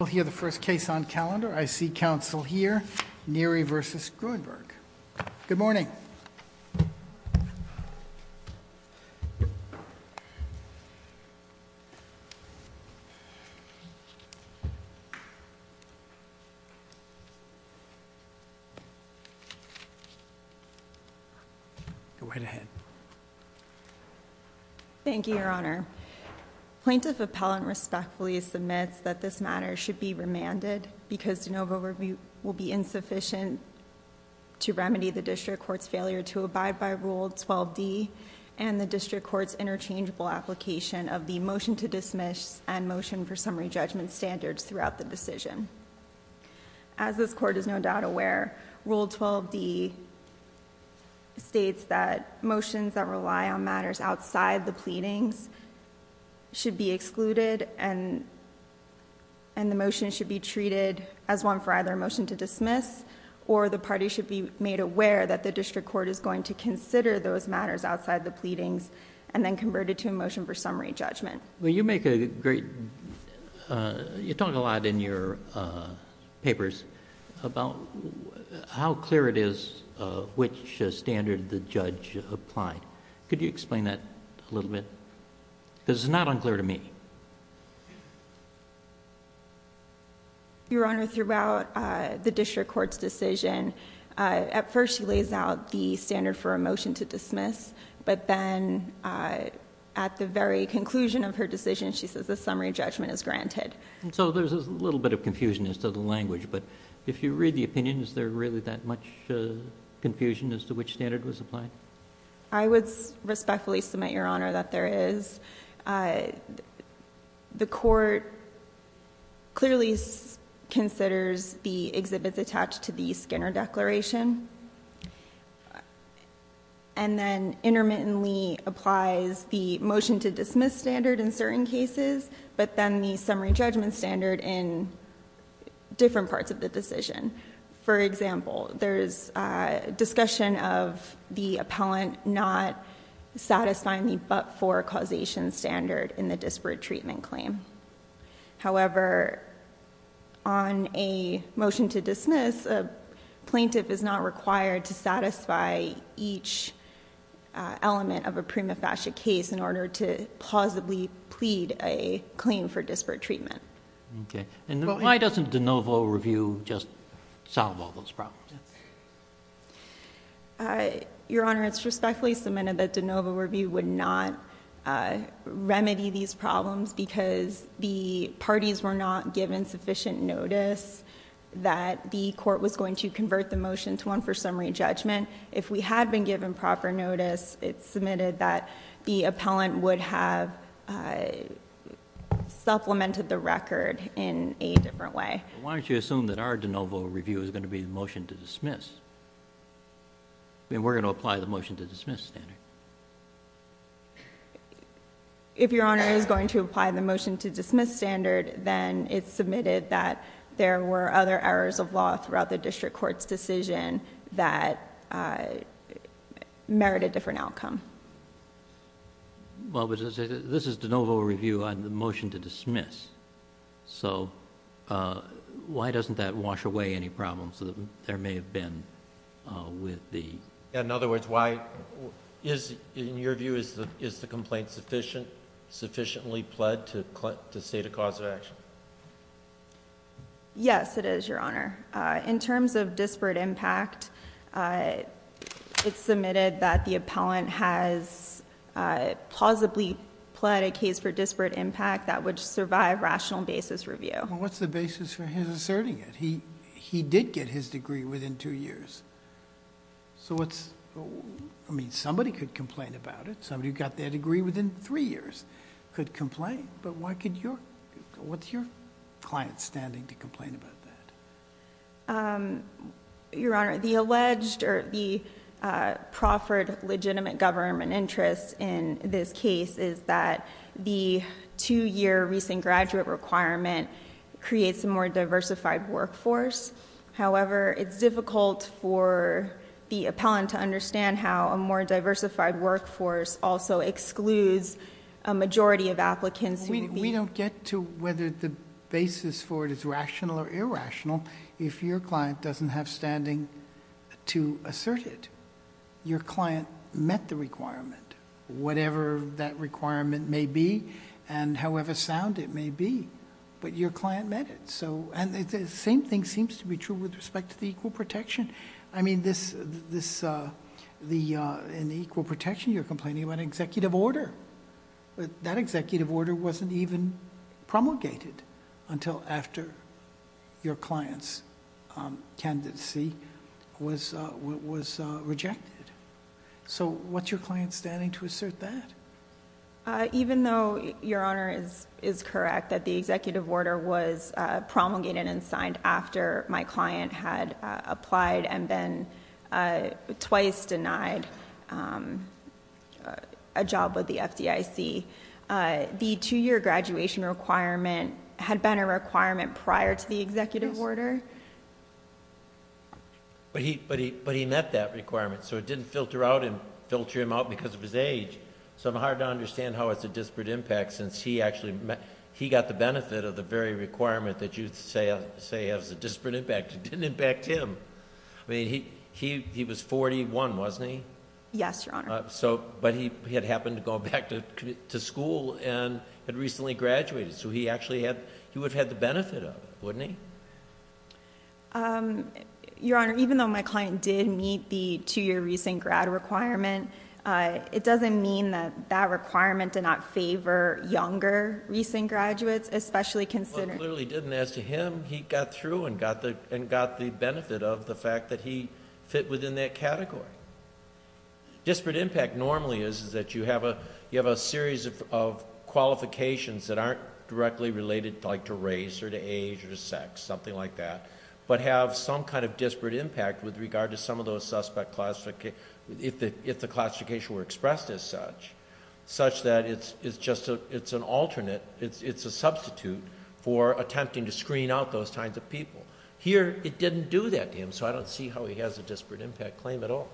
We'll hear the first case on calendar. I see counsel here. Neary v. Gruenberg. Good morning. Go right ahead. Thank you, Your Honor. Plaintiff appellant respectfully submits that this matter should be remanded because de novo review will be insufficient to remedy the district court's failure to abide by Rule 12d and the district court's interchangeable application of the motion to dismiss and motion for summary judgment standards throughout the decision. As this court is no doubt aware, Rule 12d states that motions that rely on matters outside the pleadings should be excluded and the motion should be treated as one for either a motion to dismiss or the party should be made aware that the district court is going to consider those matters outside the pleadings and then convert it to a motion for summary judgment. You talk a lot in your papers about how clear it is which standard the judge applied. Could you explain that a little bit? Because it's not unclear to me. Your Honor, throughout the district court's decision, at first she lays out the standard for a motion to dismiss, but then at the very conclusion of her decision, she says the summary judgment is granted. So there's a little bit of confusion as to the language, but if you read the opinion, is there really that much confusion as to which standard was applied? I would respectfully submit, Your Honor, that there is. The court clearly considers the exhibits attached to the Skinner Declaration, and then intermittently applies the motion to dismiss standard in certain cases, but then the summary judgment standard in different parts of the decision. For example, there's discussion of the appellant not satisfying the but-for causation standard in the disparate treatment claim. However, on a motion to dismiss, a plaintiff is not required to satisfy each element of a prima facie case in order to plausibly plead a claim for disparate treatment. Why doesn't de novo review just solve all those problems? Your Honor, it's respectfully submitted that de novo review would not remedy these problems because the parties were not given sufficient notice that the court was going to convert the motion to one for summary judgment. If we had been given proper notice, it's submitted that the appellant would have supplemented the record in a different way. Why don't you assume that our de novo review is going to be the motion to dismiss? I mean, we're going to apply the motion to dismiss standard. If Your Honor is going to apply the motion to dismiss standard, then it's submitted that there were other errors of law throughout the district court's decision that merited different outcome. Well, this is de novo review on the motion to dismiss, so why doesn't that wash away any problems that there may have been with the... In other words, in your view, is the complaint sufficiently pled to state a cause of action? Yes, it is, Your Honor. In terms of disparate impact, it's submitted that the appellant has plausibly pled a case for disparate impact that would survive rational basis review. Well, what's the basis for his asserting it? He did get his degree within two years. I mean, somebody could complain about it. Somebody who got their degree within three years could complain, but what's your client's standing to complain about that? Your Honor, the alleged or the proffered legitimate government interest in this case is that the two-year recent graduate requirement creates a more diversified workforce. However, it's difficult for the appellant to understand how a more diversified workforce also excludes a majority of applicants who... We don't get to whether the basis for it is rational or irrational if your client doesn't have standing to assert it. Your client met the requirement, whatever that requirement may be and however sound it may be, but your client met it. The same thing seems to be true with respect to the equal protection. I mean, in the equal protection, you're complaining about an executive order. That executive order wasn't even promulgated until after your client's candidacy was rejected. So, what's your client's standing to assert that? Even though your Honor is correct that the executive order was promulgated and signed after my client had applied and then twice denied a job with the FDIC, the two-year graduation requirement had been a requirement prior to the executive order. But he met that requirement, so it didn't filter him out because of his age. So, it's hard to understand how it's a disparate impact since he got the benefit of the very requirement that you say has a disparate impact. It didn't impact him. I mean, he was 41, wasn't he? Yes, Your Honor. But he had happened to go back to school and had recently graduated, so he would have had the benefit of it, wouldn't he? Your Honor, even though my client did meet the two-year recent grad requirement, it doesn't mean that that requirement did not favor younger recent graduates, especially considering— Well, it clearly didn't. As to him, he got through and got the benefit of the fact that he fit within that category. Disparate impact normally is that you have a series of qualifications that aren't directly related to race or to age or to sex, something like that, but have some kind of disparate impact with regard to some of those suspect—if the classification were expressed as such, such that it's just an alternate, it's a substitute for attempting to screen out those kinds of people. Here, it didn't do that to him, so I don't see how he has a disparate impact claim at all.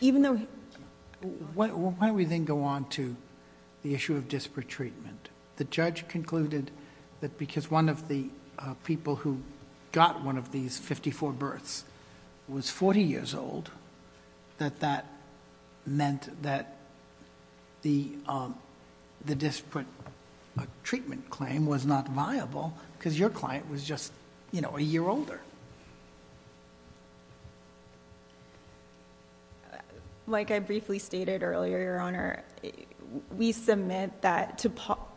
Why don't we then go on to the issue of disparate treatment? The judge concluded that because one of the people who got one of these 54 births was 40 years old, that that meant that the disparate treatment claim was not viable because your client was just a year older. Like I briefly stated earlier, Your Honor, we submit that to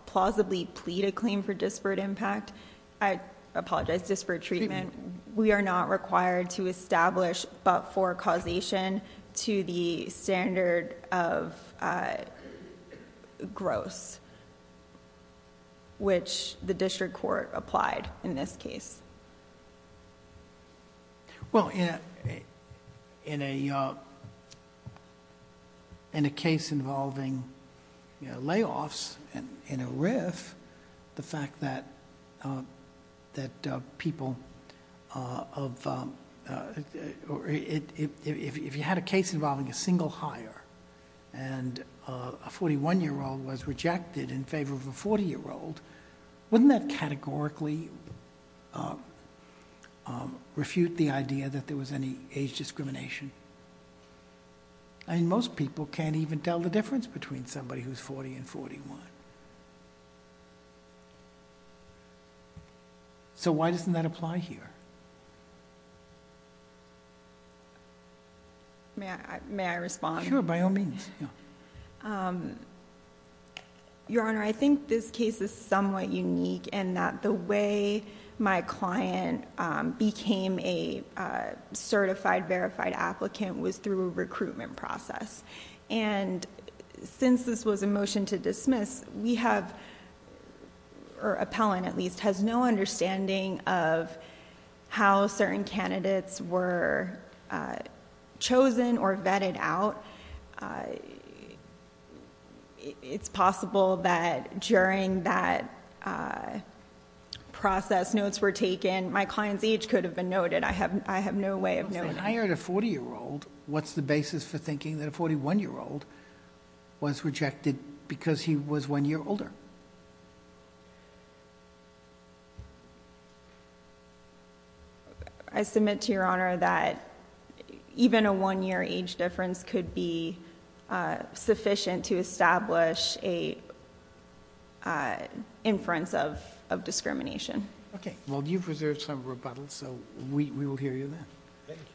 plausibly plead a claim for disparate impact— not required to establish, but for causation to the standard of gross, which the district court applied in this case. In a case involving layoffs in a RIF, if you had a case involving a single hire and a 41-year-old was rejected in favor of a 40-year-old, wouldn't that categorically refute the idea that there was any age discrimination? I mean, most people can't even tell the difference between somebody who's 40 and 41. So why doesn't that apply here? May I respond? Sure, by all means. Your Honor, I think this case is somewhat unique in that the way my client became a certified, verified applicant was through a recruitment process. And since this was a motion to dismiss, we have—or appellant, at least—has no understanding of how certain candidates were chosen or vetted out. It's possible that during that process notes were taken. My client's age could have been noted. I have no way of knowing. If they hired a 40-year-old, what's the basis for thinking that a 41-year-old was rejected because he was one year older? I submit to Your Honor that even a one-year age difference could be sufficient to establish an inference of discrimination. Okay. Well, you've preserved some rebuttals, so we will hear you then. Thank you.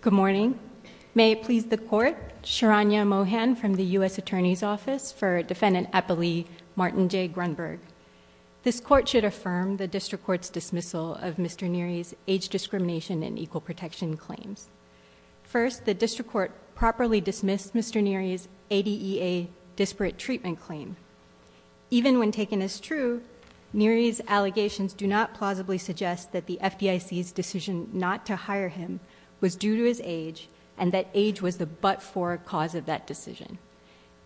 Good morning. May it please the Court, Sharanya Mohan from the U.S. Attorney's Office for Defendant Appellee Martin J. Grunberg. This Court should affirm the District Court's dismissal of Mr. Neary's age discrimination and equal protection claims. First, the District Court properly dismissed Mr. Neary's ADEA disparate treatment claim. Even when taken as true, Neary's allegations do not plausibly suggest that the FDIC's decision not to hire him was due to his age and that age was the but-for cause of that decision.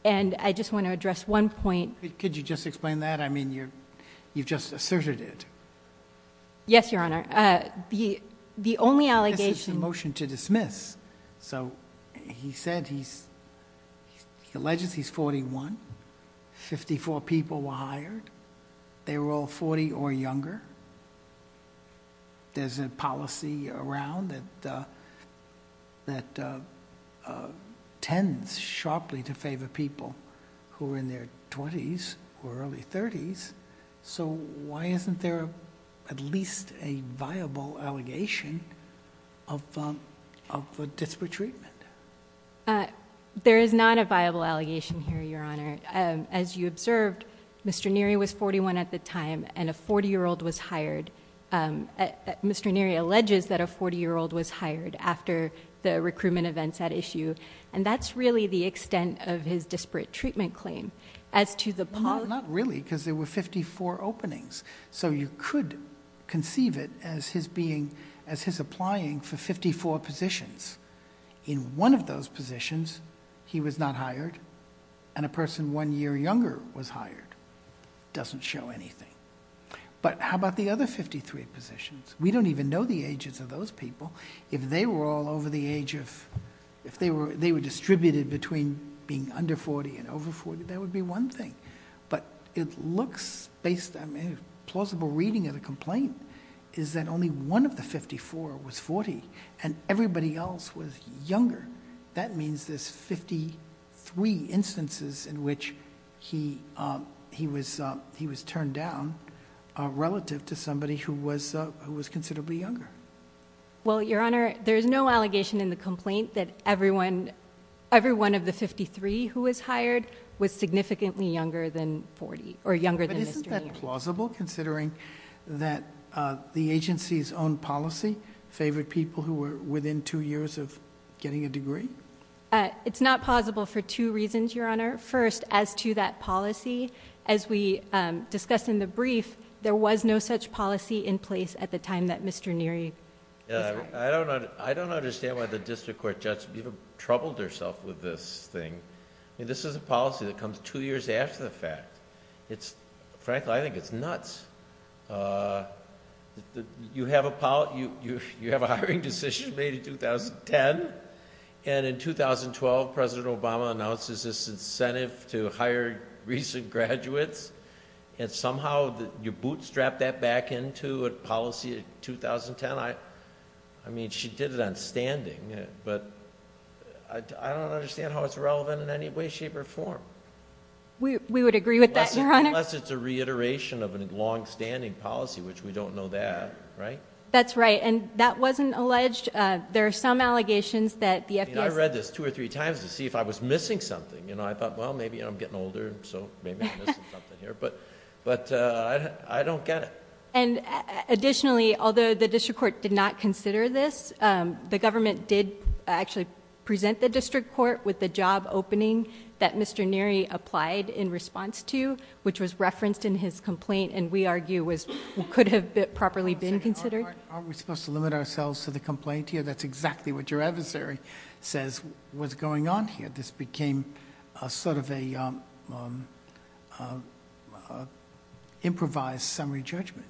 And I just want to address one point. Could you just explain that? I mean, you've just asserted it. Yes, Your Honor. The only allegation— So he said he's—he alleges he's 41. Fifty-four people were hired. They were all 40 or younger. There's a policy around that tends sharply to favor people who are in their 20s or early 30s. So why isn't there at least a viable allegation of disparate treatment? There is not a viable allegation here, Your Honor. As you observed, Mr. Neary was 41 at the time and a 40-year-old was hired. Mr. Neary alleges that a 40-year-old was hired after the recruitment events at issue. And that's really the extent of his disparate treatment claim. No, not really because there were 54 openings. So you could conceive it as his being—as his applying for 54 positions. In one of those positions, he was not hired, and a person one year younger was hired. It doesn't show anything. But how about the other 53 positions? We don't even know the ages of those people. If they were all over the age of— That would be one thing. But it looks based—a plausible reading of the complaint is that only one of the 54 was 40, and everybody else was younger. That means there's 53 instances in which he was turned down relative to somebody who was considerably younger. Well, Your Honor, there's no allegation in the complaint that everyone— every one of the 53 who was hired was significantly younger than 40 or younger than Mr. Neary. But isn't that plausible considering that the agency's own policy favored people who were within two years of getting a degree? It's not plausible for two reasons, Your Honor. First, as to that policy, as we discussed in the brief, there was no such policy in place at the time that Mr. Neary was hired. I don't understand why the district court judge even troubled herself with this thing. This is a policy that comes two years after the fact. Frankly, I think it's nuts. You have a hiring decision made in 2010, and in 2012, President Obama announces this incentive to hire recent graduates. And somehow you bootstrap that back into a policy in 2010. I mean, she did it on standing. But I don't understand how it's relevant in any way, shape, or form. We would agree with that, Your Honor. Unless it's a reiteration of a longstanding policy, which we don't know that, right? That's right. And that wasn't alleged. There are some allegations that the FBI— I read this two or three times to see if I was missing something. I thought, well, maybe I'm getting older, so maybe I'm missing something here. But I don't get it. Additionally, although the district court did not consider this, the government did actually present the district court with the job opening that Mr. Neary applied in response to, which was referenced in his complaint, and we argue could have properly been considered. Aren't we supposed to limit ourselves to the complaint here? That's exactly what your adversary says was going on here. This became sort of an improvised summary judgment.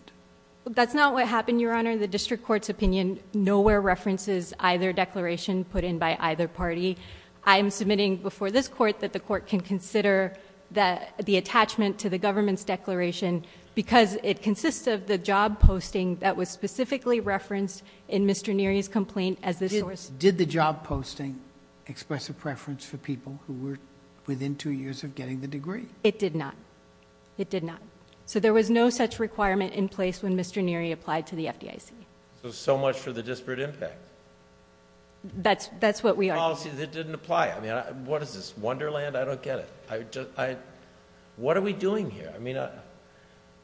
That's not what happened, Your Honor. The district court's opinion nowhere references either declaration put in by either party. I am submitting before this court that the court can consider the attachment to the government's declaration because it consists of the job posting that was specifically referenced in Mr. Neary's complaint as the source. Did the job posting express a preference for people who were within two years of getting the degree? It did not. It did not. There was no such requirement in place when Mr. Neary applied to the FDIC. So much for the disparate impact. That's what we argue. A policy that didn't apply. What is this, Wonderland? I don't get it. What are we doing here?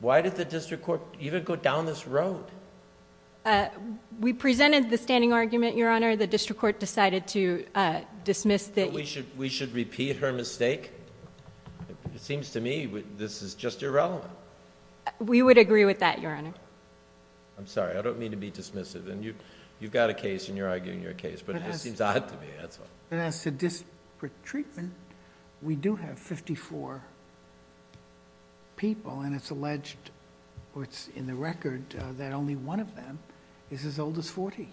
Why did the district court even go down this road? We presented the standing argument, Your Honor. The district court decided to dismiss the... We should repeat her mistake? It seems to me this is just irrelevant. We would agree with that, Your Honor. I'm sorry. I don't mean to be dismissive. You've got a case and you're arguing your case, but it just seems odd to me. As to disparate treatment, we do have 54 people and it's alleged, or it's in the record, that only one of them is as old as 40.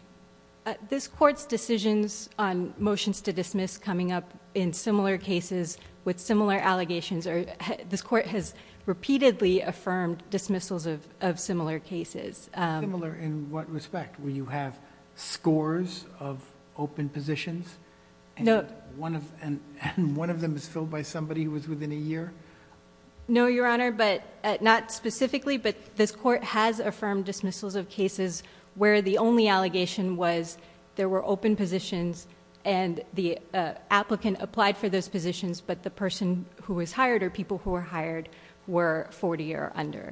This court's decisions on motions to dismiss coming up in similar cases with similar allegations... This court has repeatedly affirmed dismissals of similar cases. Similar in what respect? Where you have scores of open positions and one of them is filled by somebody who was within a year? No, Your Honor. Not specifically, but this court has affirmed dismissals of cases where the only allegation was there were open positions... and the applicant applied for those positions, but the person who was hired or people who were hired were 40 or under.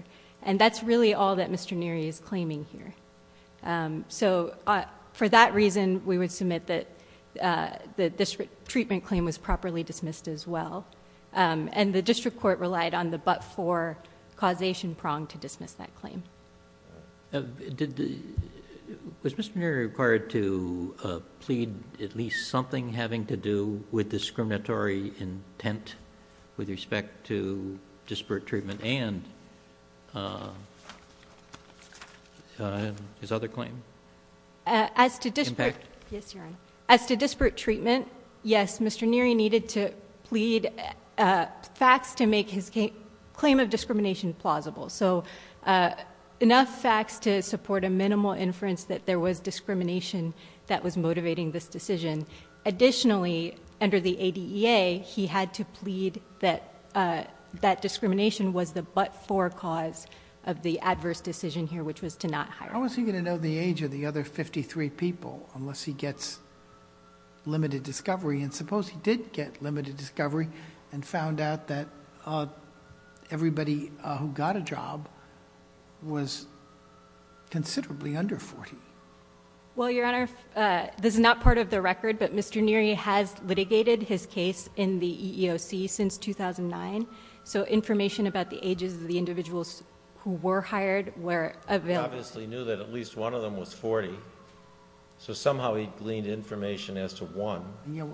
That's really all that Mr. Neary is claiming here. For that reason, we would submit that the disparate treatment claim was properly dismissed as well. The district court relied on the but-for causation prong to dismiss that claim. Was Mr. Neary required to plead at least something having to do with discriminatory intent with respect to disparate treatment and... his other claim? As to disparate... Yes, Your Honor. As to disparate treatment, yes, Mr. Neary needed to plead facts to make his claim of discrimination plausible. So, enough facts to support a minimal inference that there was discrimination that was motivating this decision. Additionally, under the ADEA, he had to plead that that discrimination was the but-for cause of the adverse decision here, which was to not hire. How is he going to know the age of the other 53 people unless he gets limited discovery? Suppose he did get limited discovery and found out that everybody who got a job was considerably under 40. Well, Your Honor, this is not part of the record, but Mr. Neary has litigated his case in the EEOC since 2009. So, information about the ages of the individuals who were hired were available. So, he obviously knew that at least one of them was 40. So, somehow he gleaned information as to one.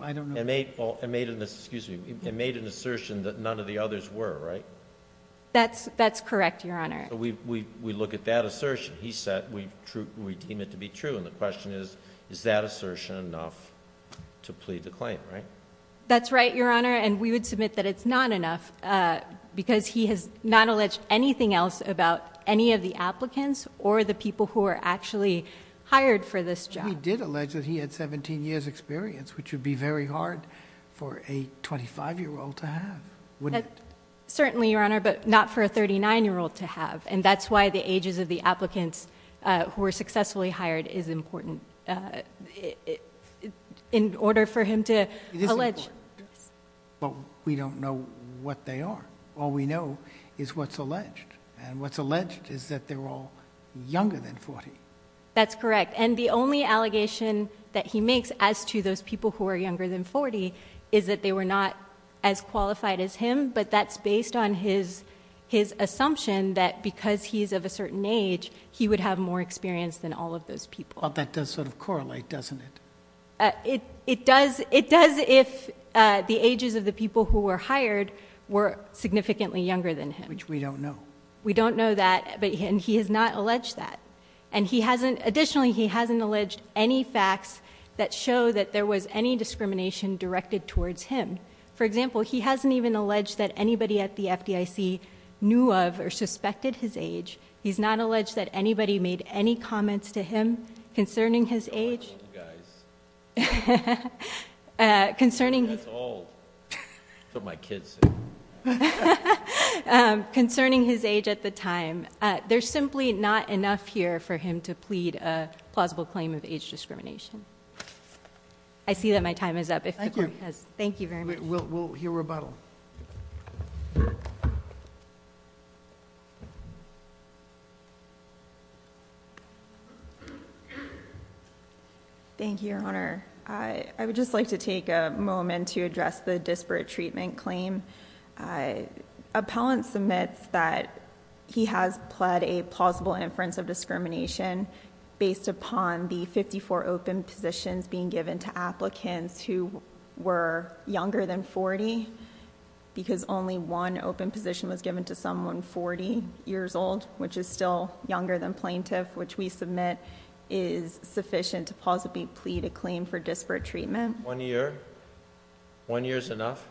I don't know... And made an assertion that none of the others were, right? That's correct, Your Honor. So, we look at that assertion. He said we deem it to be true. And the question is, is that assertion enough to plead the claim, right? That's right, Your Honor. And we would submit that it's not enough because he has not alleged anything else about any of the applicants or the people who were actually hired for this job. He did allege that he had 17 years' experience, which would be very hard for a 25-year-old to have, wouldn't it? Certainly, Your Honor, but not for a 39-year-old to have. And that's why the ages of the applicants who were successfully hired is important in order for him to allege. It is important. But we don't know what they are. All we know is what's alleged. And what's alleged is that they were all younger than 40. That's correct. And the only allegation that he makes as to those people who were younger than 40 is that they were not as qualified as him. But that's based on his assumption that because he's of a certain age, he would have more experience than all of those people. Well, that does sort of correlate, doesn't it? It does if the ages of the people who were hired were significantly younger than him. Which we don't know. We don't know that, and he has not alleged that. And additionally, he hasn't alleged any facts that show that there was any discrimination directed towards him. For example, he hasn't even alleged that anybody at the FDIC knew of or suspected his age. He's not alleged that anybody made any comments to him concerning his age. I don't like old guys. That's old. That's what my kids say. Concerning his age at the time. There's simply not enough here for him to plead a plausible claim of age discrimination. I see that my time is up. Thank you very much. We'll hear rebuttal. Thank you, Your Honor. I would just like to take a moment to address the disparate treatment claim. Appellant submits that he has pled a plausible inference of discrimination based upon the 54 open positions being given to applicants who were younger than 40. Because only one open position was given to someone 40 years old, which is still younger than plaintiff. Which we submit is sufficient to possibly plead a claim for disparate treatment. One year? One year is enough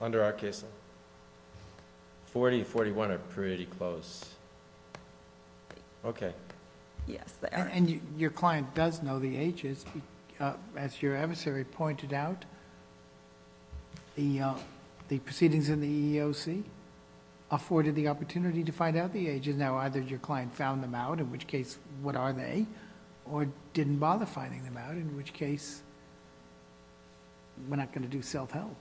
under our case law? 40 and 41 are pretty close. Okay. Yes, there. Your client does know the ages. As your adversary pointed out, the proceedings in the EEOC afforded the opportunity to find out the ages. Now, either your client found them out, in which case, what are they? Or didn't bother finding them out, in which case, we're not going to do self-help.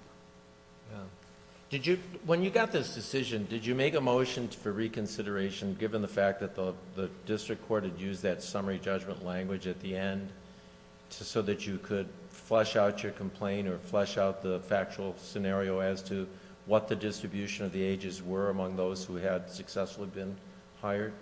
When you got this decision, did you make a motion for reconsideration, given the fact that the district court had used that summary judgment language at the end, so that you could flesh out your complaint or flesh out the factual scenario as to what the distribution of the ages were among those who had successfully been hired?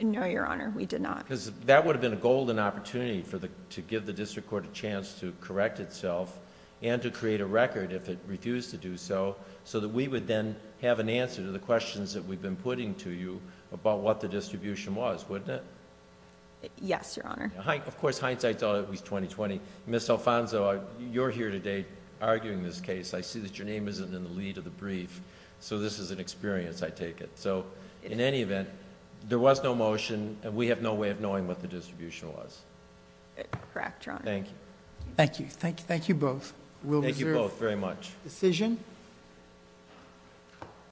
No, Your Honor. We did not. That would have been a golden opportunity to give the district court a chance to correct itself and to create a record if it refused to do so, so that we would then have an answer to the questions that we've been putting to you about what the distribution was, wouldn't it? Yes, Your Honor. Of course, hindsight's always 20-20. Ms. Alfonzo, you're here today arguing this case. I see that your name isn't in the lead of the brief, so this is an experience, I take it. In any event, there was no motion, and we have no way of knowing what the distribution was. Correct, Your Honor. Thank you. Thank you. Thank you both. Thank you both very much. We'll reserve the decision.